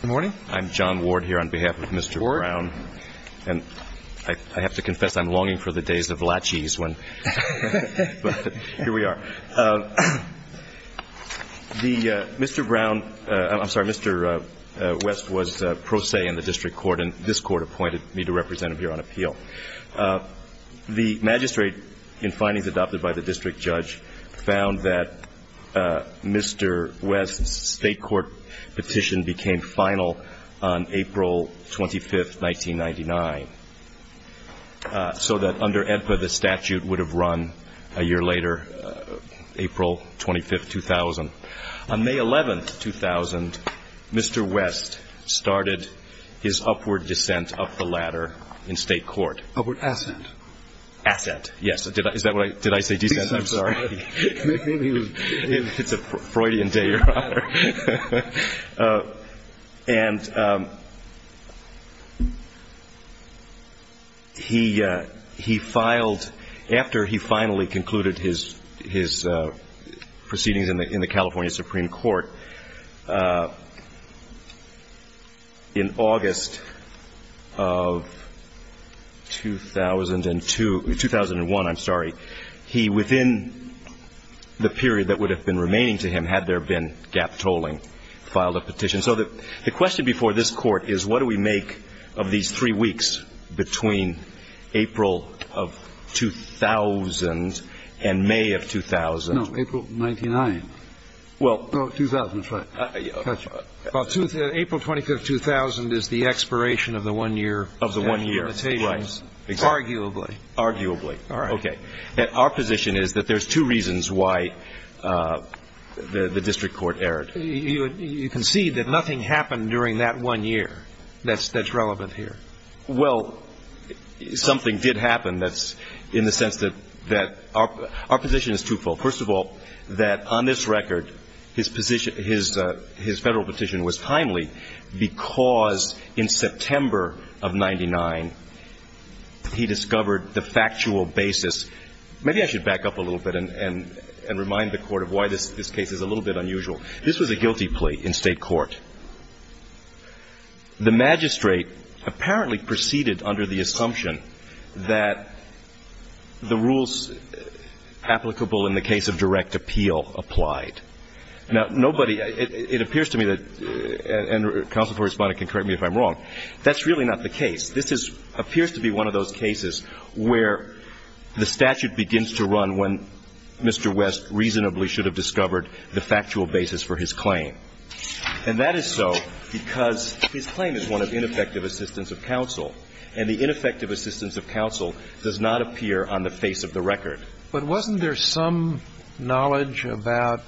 Good morning. I'm John Ward here on behalf of Mr. Brown, and I have to confess I'm longing for the days of lachies, but here we are. Mr. Brown, I'm sorry, Mr. West was pro se in the district court, and this court appointed me to represent him here on appeal. The magistrate in findings adopted by the district judge found that Mr. West's state court petition became final on April 25, 1999, so that under AEDPA the statute would have run a year later, April 25, 2000. On May 11, 2000, Mr. West started his upward descent up the ladder in state court. Upward ascent. Ascent, yes. Did I say descent? I'm sorry. And he filed, after he finally concluded his proceedings in the California Supreme Court, in August of 2002, 2001, I'm sorry, he filed a petition to the California Supreme Court. He, within the period that would have been remaining to him, had there been gap tolling, filed a petition. So the question before this Court is what do we make of these three weeks between April of 2000 and May of 2000? No, April 99. Well. No, 2005. Well, April 25, 2000 is the expiration of the one-year limitations. Of the one year, right. Arguably. Arguably. All right. Okay. Our position is that there's two reasons why the district court erred. You concede that nothing happened during that one year that's relevant here. Well, something did happen that's in the sense that our position is twofold. First of all, that on this record, his position, his federal petition was timely because in September of 99, he discovered the factual basis. Maybe I should back up a little bit and remind the Court of why this case is a little bit unusual. This was a guilty plea in state court. The magistrate apparently proceeded under the assumption that the rules applicable in the case of direct appeal applied. Now, nobody, it appears to me that, and counsel for respondent can correct me if I'm wrong, that's really not the case. This appears to be one of those cases where the statute begins to run when Mr. West reasonably should have discovered the factual basis for his claim. And that is so because his claim is one of ineffective assistance of counsel. And the ineffective assistance of counsel does not appear on the face of the record. But wasn't there some knowledge about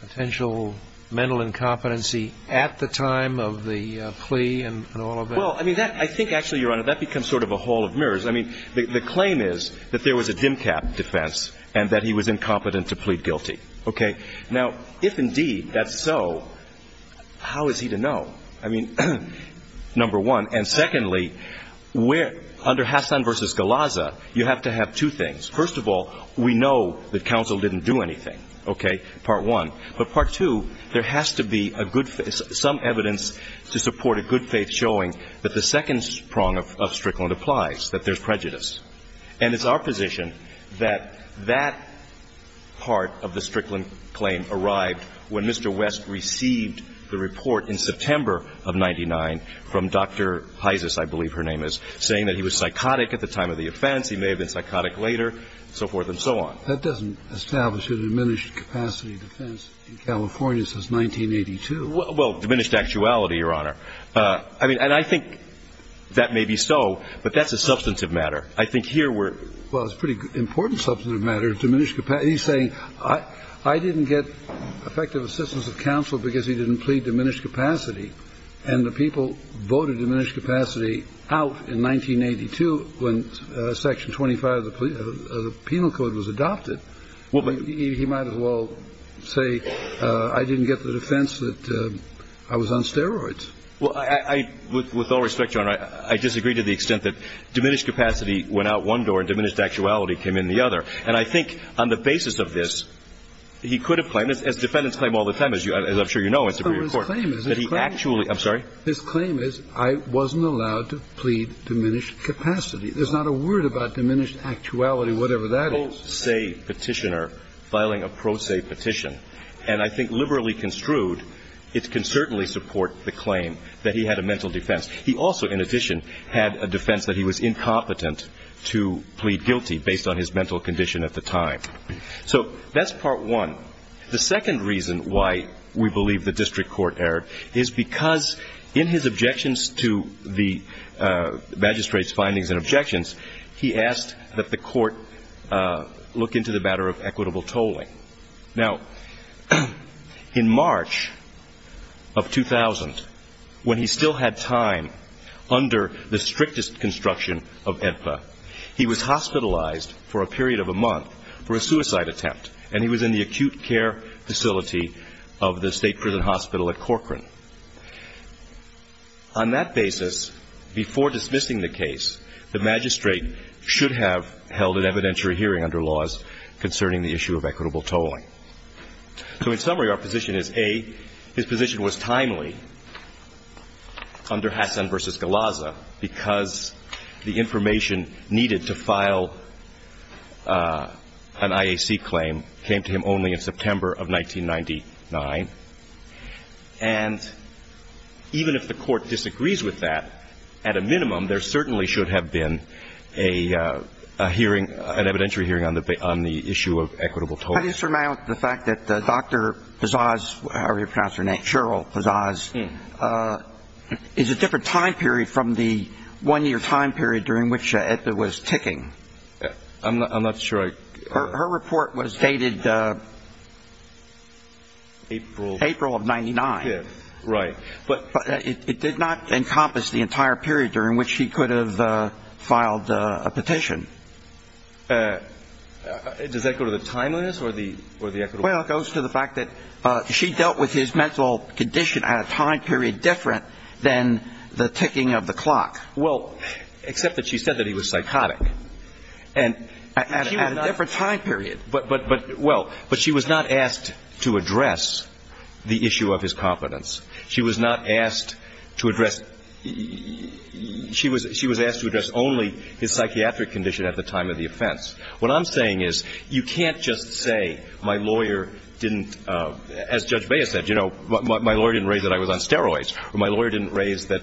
potential mental incompetency at the time of the plea and all of that? Well, I mean, I think actually, Your Honor, that becomes sort of a hall of mirrors. I mean, the claim is that there was a dim cap defense and that he was incompetent to plead guilty. Okay. Now, if indeed that's so, how is he to know? I mean, number one. And secondly, under Hassan v. Galazza, you have to have two things. First of all, we know that counsel didn't do anything, okay, part one. But part two, there has to be some evidence to support a good faith showing that the second prong of Strickland applies, that there's prejudice. And it's our position that that part of the Strickland claim arrived when Mr. West received the report in September of 99 from Dr. Heises. I believe her name is, saying that he was psychotic at the time of the offense. He may have been psychotic later, and so forth and so on. That doesn't establish a diminished capacity defense in California since 1982. Well, diminished actuality, Your Honor. I mean, and I think that may be so, but that's a substantive matter. I think here we're. Well, it's a pretty important substantive matter. Diminished capacity. He's saying I didn't get effective assistance of counsel because he didn't plead diminished capacity. And the people voted diminished capacity out in 1982 when Section 25 of the penal code was adopted. He might as well say I didn't get the defense that I was on steroids. Well, I, with all respect, Your Honor, I disagree to the extent that diminished capacity went out one door and diminished actuality came in the other. And I think on the basis of this, he could have claimed, as defendants claim all the time, as I'm sure you know as to your report, that he actually. I'm sorry? His claim is I wasn't allowed to plead diminished capacity. There's not a word about diminished actuality, whatever that is. petitioner filing a pro se petition, and I think liberally construed, it can certainly support the claim that he had a mental defense. He also, in addition, had a defense that he was incompetent to plead guilty based on his mental condition at the time. So that's part one. The second reason why we believe the district court erred is because in his objections to the magistrate's findings and objections, he asked that the court look into the matter of equitable tolling. Now, in March of 2000, when he still had time under the strictest construction of AEDPA, he was hospitalized for a period of a month for a suicide attempt, and he was in the acute care facility of the state prison hospital at Corcoran. On that basis, before dismissing the case, the magistrate should have held an evidentiary hearing under laws concerning the issue of equitable tolling. So in summary, our position is, A, his position was timely under Hassan v. Galazza because the information needed to file an IAC claim came to him only in September of 1999, and even if the court disagrees with that, at a minimum, there certainly should have been a hearing, an evidentiary hearing on the issue of equitable tolling. How do you surmount the fact that Dr. Pazaz, however you pronounce her name, Cheryl Pazaz, is a different time period from the one-year time period during which AEDPA was ticking? I'm not sure I can ---- Her report was dated ---- April of 99. Right. But it did not encompass the entire period during which he could have filed a petition. Does that go to the timeliness or the equitable tolling? Well, it goes to the fact that she dealt with his mental condition at a time period different than the ticking of the clock. Well, except that she said that he was psychotic. At a different time period. But, well, but she was not asked to address the issue of his competence. She was not asked to address ---- she was asked to address only his psychiatric condition at the time of the offense. What I'm saying is you can't just say my lawyer didn't, as Judge Baez said, you know, my lawyer didn't raise that I was on steroids, or my lawyer didn't raise that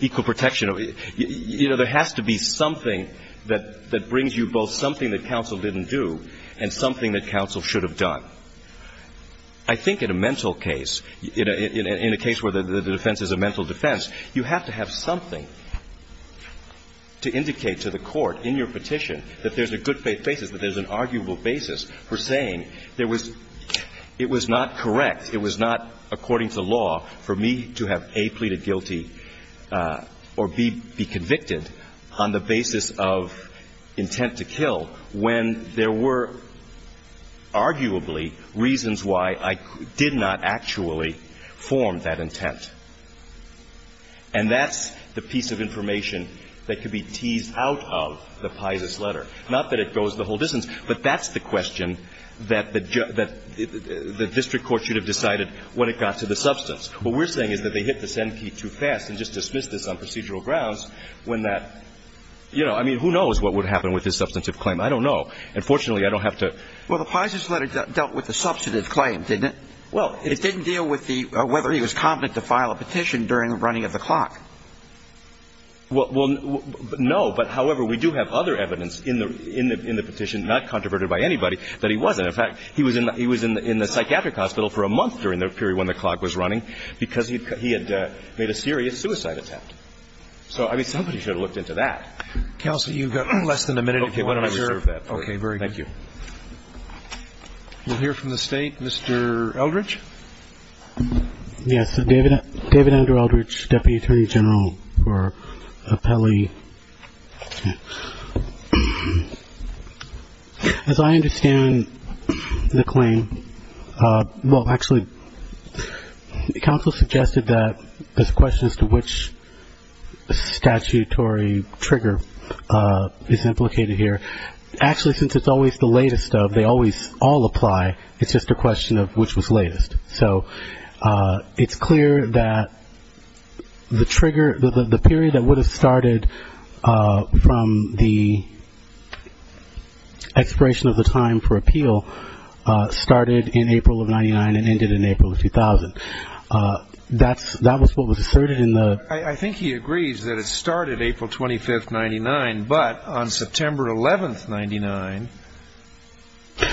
equal protection. You know, there has to be something that brings you both something that counsel didn't do and something that counsel should have done. I think in a mental case, in a case where the defense is a mental defense, you have to have something to indicate to the court in your petition that there's a good-faith basis, that there's an arguable basis for saying there was ---- it was not correct, it was not according to law for me to have, A, pleaded guilty or, B, be convicted on the basis of intent to kill when there were arguably reasons why I did not actually form that intent. And that's the piece of information that could be teased out of the Paisa's letter. And that's the question that the district court should have decided when it got to the substance. What we're saying is that they hit the send key too fast and just dismissed this on procedural grounds when that ---- you know, I mean, who knows what would happen with this substantive claim? I don't know. And fortunately, I don't have to ---- Well, the Paisa's letter dealt with the substantive claim, didn't it? Well, it's ---- It didn't deal with the ---- whether he was confident to file a petition during the running of the clock. Well, no. But, however, we do have other evidence in the petition, not controverted by anybody, that he wasn't. In fact, he was in the psychiatric hospital for a month during the period when the clock was running because he had made a serious suicide attempt. So, I mean, somebody should have looked into that. Counsel, you've got less than a minute. Okay. Why don't I reserve that for you? Okay. Very good. Thank you. We'll hear from the State. Mr. Eldridge. Yes, David Ender Eldridge, Deputy Attorney General for Appellee. As I understand the claim, well, actually, the counsel suggested that there's a question as to which statutory trigger is implicated here. Actually, since it's always the latest of, they always all apply, it's just a question of which was latest. So it's clear that the trigger, the period that would have started from the expiration of the time for appeal started in April of 99 and ended in April of 2000. That was what was asserted in the ---- I think he agrees that it started April 25th, 99, but on September 11th, 99,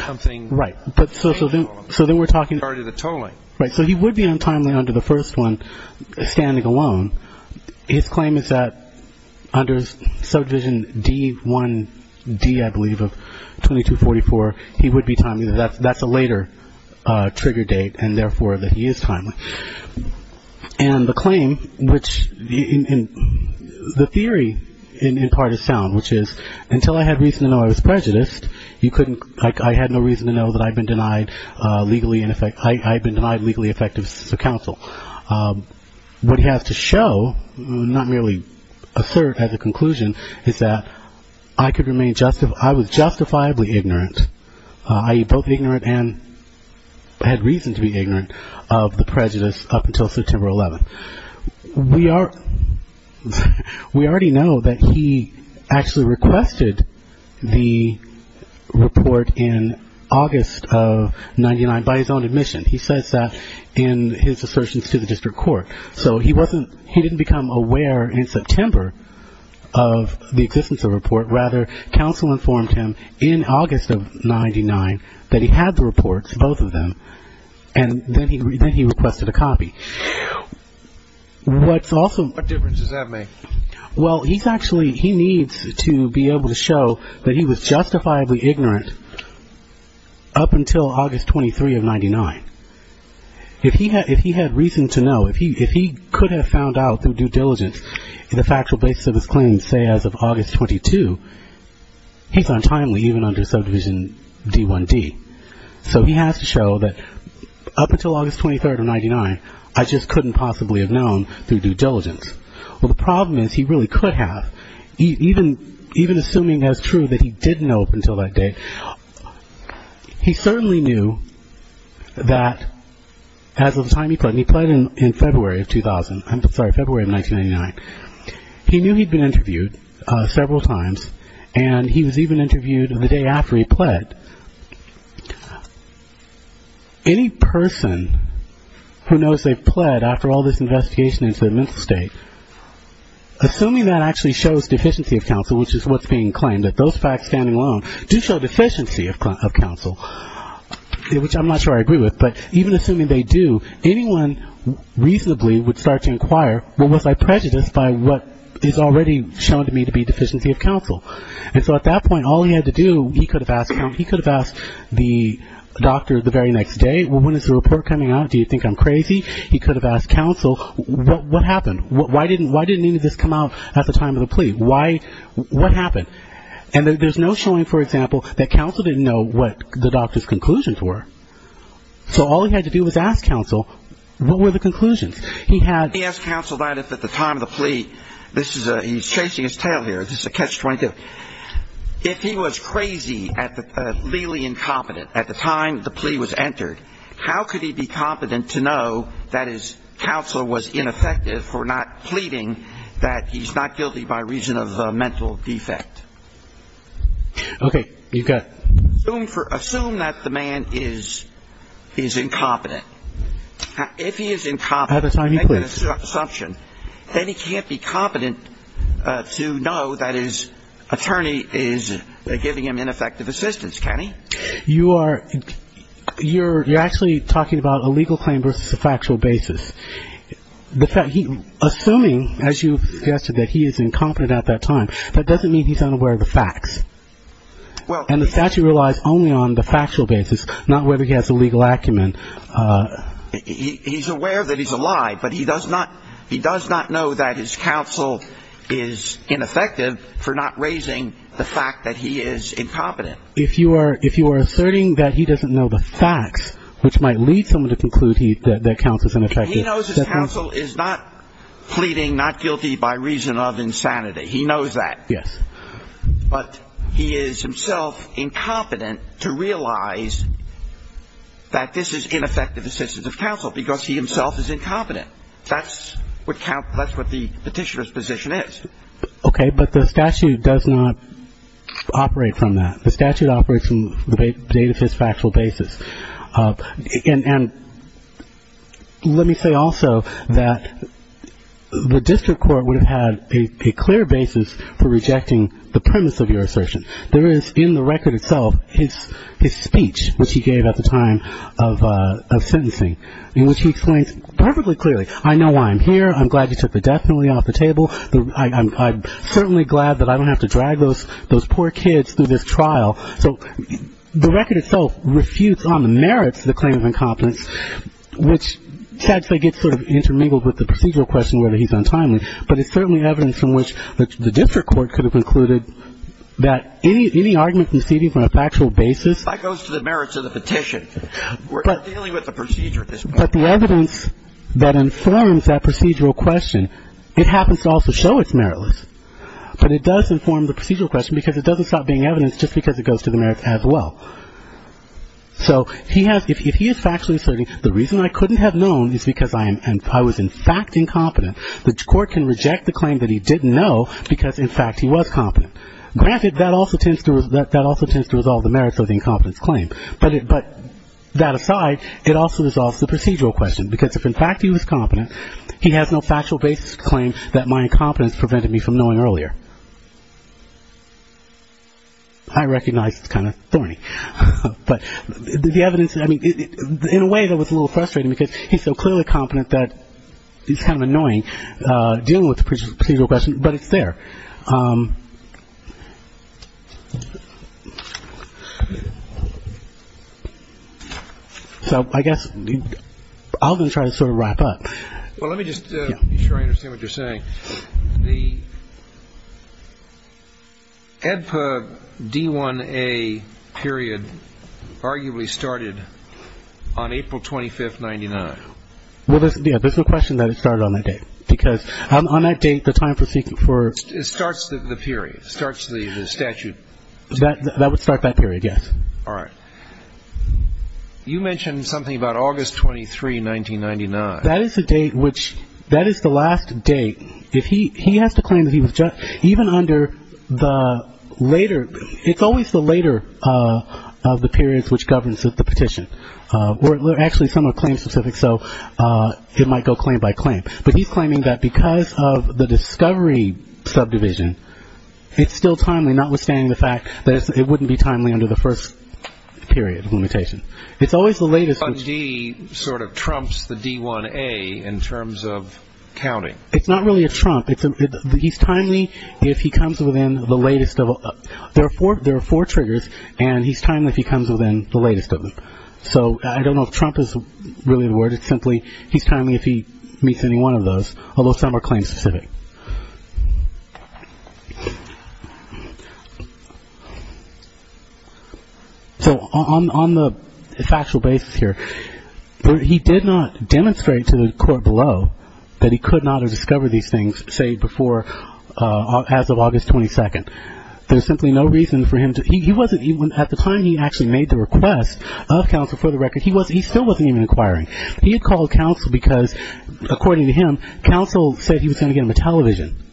something ---- Right. So then we're talking ---- Started a tolling. Right. So he would be untimely under the first one, standing alone. His claim is that under Subdivision D1D, I believe, of 2244, he would be timely. That's a later trigger date and, therefore, that he is timely. And the claim, which the theory in part is sound, which is until I had reason to know I was prejudiced, I had no reason to know that I had been denied legally effective counsel. What he has to show, not merely assert as a conclusion, is that I was justifiably ignorant, i.e., both ignorant and had reason to be ignorant of the prejudice up until September 11th. We already know that he actually requested the report in August of 99 by his own admission. He says that in his assertions to the district court. So he didn't become aware in September of the existence of a report. Rather, counsel informed him in August of 99 that he had the reports, both of them, and then he requested a copy. What's also ---- What difference does that make? Well, he's actually ---- he needs to be able to show that he was justifiably ignorant up until August 23rd of 99. If he had reason to know, if he could have found out through due diligence the factual basis of his claims, say, as of August 22, he's untimely even under subdivision D1D. So he has to show that up until August 23rd of 99, I just couldn't possibly have known through due diligence. Well, the problem is he really could have, even assuming as true that he didn't know up until that date. He certainly knew that as of the time he pled, and he pled in February of 2000, I'm sorry, February of 1999. He knew he'd been interviewed several times, and he was even interviewed the day after he pled. Any person who knows they've pled after all this investigation into the mental state, assuming that actually shows deficiency of counsel, which is what's being claimed, that those facts standing alone do show deficiency of counsel, which I'm not sure I agree with, but even assuming they do, anyone reasonably would start to inquire, well, was I prejudiced by what is already shown to me to be deficiency of counsel? And so at that point, all he had to do, he could have asked the doctor the very next day, well, when is the report coming out, do you think I'm crazy? He could have asked counsel, what happened? Why didn't any of this come out at the time of the plea? What happened? And there's no showing, for example, that counsel didn't know what the doctor's conclusions were. So all he had to do was ask counsel, what were the conclusions? He asked counsel that if at the time of the plea, this is a, he's chasing his tail here, this is a catch-22. If he was crazy, legally incompetent at the time the plea was entered, how could he be competent to know that his counsel was ineffective for not pleading that he's not guilty by reason of mental defect? Okay, you've got it. Assume that the man is incompetent. If he is incompetent, make an assumption, then he can't be competent to know that his attorney is giving him ineffective assistance, can he? You are, you're actually talking about a legal claim versus a factual basis. Assuming, as you suggested, that he is incompetent at that time, that doesn't mean he's unaware of the facts. And the statute relies only on the factual basis, not whether he has a legal acumen. He's aware that he's a lie, but he does not know that his counsel is ineffective for not raising the fact that he is incompetent. If you are, if you are asserting that he doesn't know the facts, which might lead someone to conclude he, that, that counsel's ineffective assistance. He knows his counsel is not pleading not guilty by reason of insanity. He knows that. Yes. But he is himself incompetent to realize that this is ineffective assistance of counsel because he himself is incompetent. That's what, that's what the petitioner's position is. Okay, but the statute does not operate from that. The statute operates from the date of his factual basis. And let me say also that the district court would have had a clear basis for rejecting the premise of your assertion. There is in the record itself his speech, which he gave at the time of sentencing, in which he explains perfectly clearly, I know why I'm here. I'm glad you took the death penalty off the table. I'm certainly glad that I don't have to drag those poor kids through this trial. So the record itself refutes on the merits of the claim of incompetence, which sadly gets sort of intermingled with the procedural question whether he's untimely. But it's certainly evidence from which the district court could have concluded that any argument conceding from a factual basis. That goes to the merits of the petition. We're dealing with the procedure at this point. But the evidence that informs that procedural question, it happens to also show it's meritless. But it does inform the procedural question because it doesn't stop being evidence just because it goes to the merits as well. So if he is factually asserting the reason I couldn't have known is because I was in fact incompetent, the court can reject the claim that he didn't know because, in fact, he was competent. Granted, that also tends to resolve the merits of the incompetence claim. But that aside, it also resolves the procedural question because if, in fact, he was competent, he has no factual basis to claim that my incompetence prevented me from knowing earlier. I recognize it's kind of thorny. But the evidence, I mean, in a way that was a little frustrating because he's so clearly competent that it's kind of annoying dealing with the procedural question, but it's there. So I guess I'll just try to sort of wrap up. Well, let me just make sure I understand what you're saying. The EDPA D1A period arguably started on April 25th, 1999. Well, yeah, there's no question that it started on that date because on that date, the time for seeking for. It starts the period. It starts the statute. That would start that period, yes. All right. You mentioned something about August 23, 1999. That is the date which that is the last date. If he has to claim that he was even under the later, it's always the later of the periods which governs the petition. Actually, some are claim specific, so it might go claim by claim. But he's claiming that because of the discovery subdivision, it's still timely, notwithstanding the fact that it wouldn't be timely under the first period of limitation. It's always the latest. D sort of trumps the D1A in terms of counting. It's not really a trump. He's timely if he comes within the latest. There are four triggers, and he's timely if he comes within the latest of them. So I don't know if trump is really the word. It's simply he's timely if he meets any one of those, although some are claim specific. So on the factual basis here, he did not demonstrate to the court below that he could not have discovered these things, say, before as of August 22. There's simply no reason for him to. At the time he actually made the request of counsel for the record, he still wasn't even inquiring. He had called counsel because, according to him, counsel said he was going to get him a television.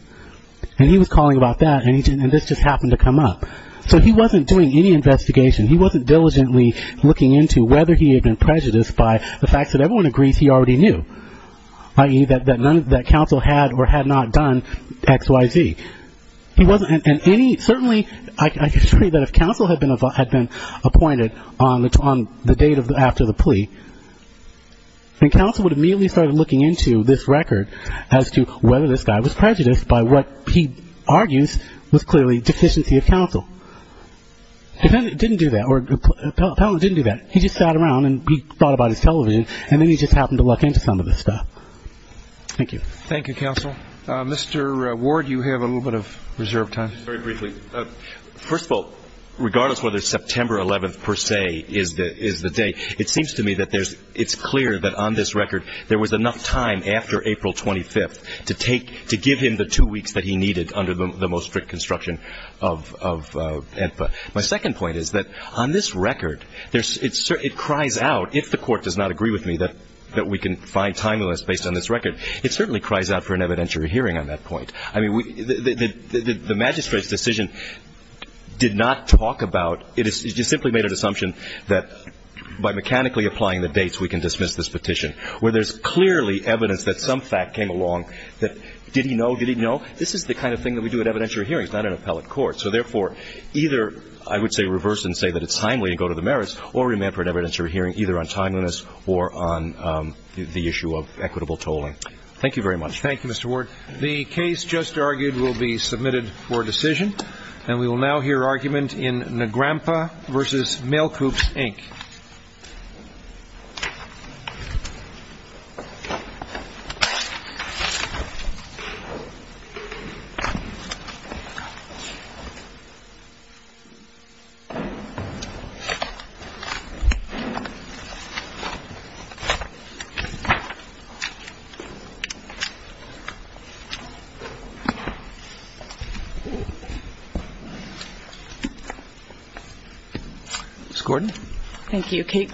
And he was calling about that, and this just happened to come up. So he wasn't doing any investigation. He wasn't diligently looking into whether he had been prejudiced by the fact that everyone agrees he already knew, i.e., that counsel had or had not done X, Y, Z. He wasn't in any, certainly, I could see that if counsel had been appointed on the date after the plea, then counsel would have immediately started looking into this record as to whether this guy was prejudiced by what he argues was clearly deficiency of counsel. He didn't do that, or Appellant didn't do that. He just sat around and he thought about his television, and then he just happened to look into some of this stuff. Thank you. Thank you, counsel. Mr. Ward, you have a little bit of reserve time. Very briefly. First of all, regardless whether September 11th, per se, is the day, it seems to me that it's clear that on this record there was enough time after April 25th to give him the two weeks that he needed under the most strict construction of AEDPA. My second point is that on this record, it cries out, if the Court does not agree with me that we can find timeliness based on this record, it certainly cries out for an evidentiary hearing on that point. I mean, the magistrate's decision did not talk about, it simply made an assumption that by mechanically applying the dates we can dismiss this petition, where there's clearly evidence that some fact came along that did he know, did he know? This is the kind of thing that we do at evidentiary hearings, not in appellate court. So, therefore, either I would say reverse and say that it's timely and go to the merits or remand for an evidentiary hearing either on timeliness or on the issue of equitable tolling. Thank you very much. Thank you, Mr. Ward. The case just argued will be submitted for decision. And we will now hear argument in Nagrampa v. Mail Coops, Inc. Ms. Gordon. Thank you.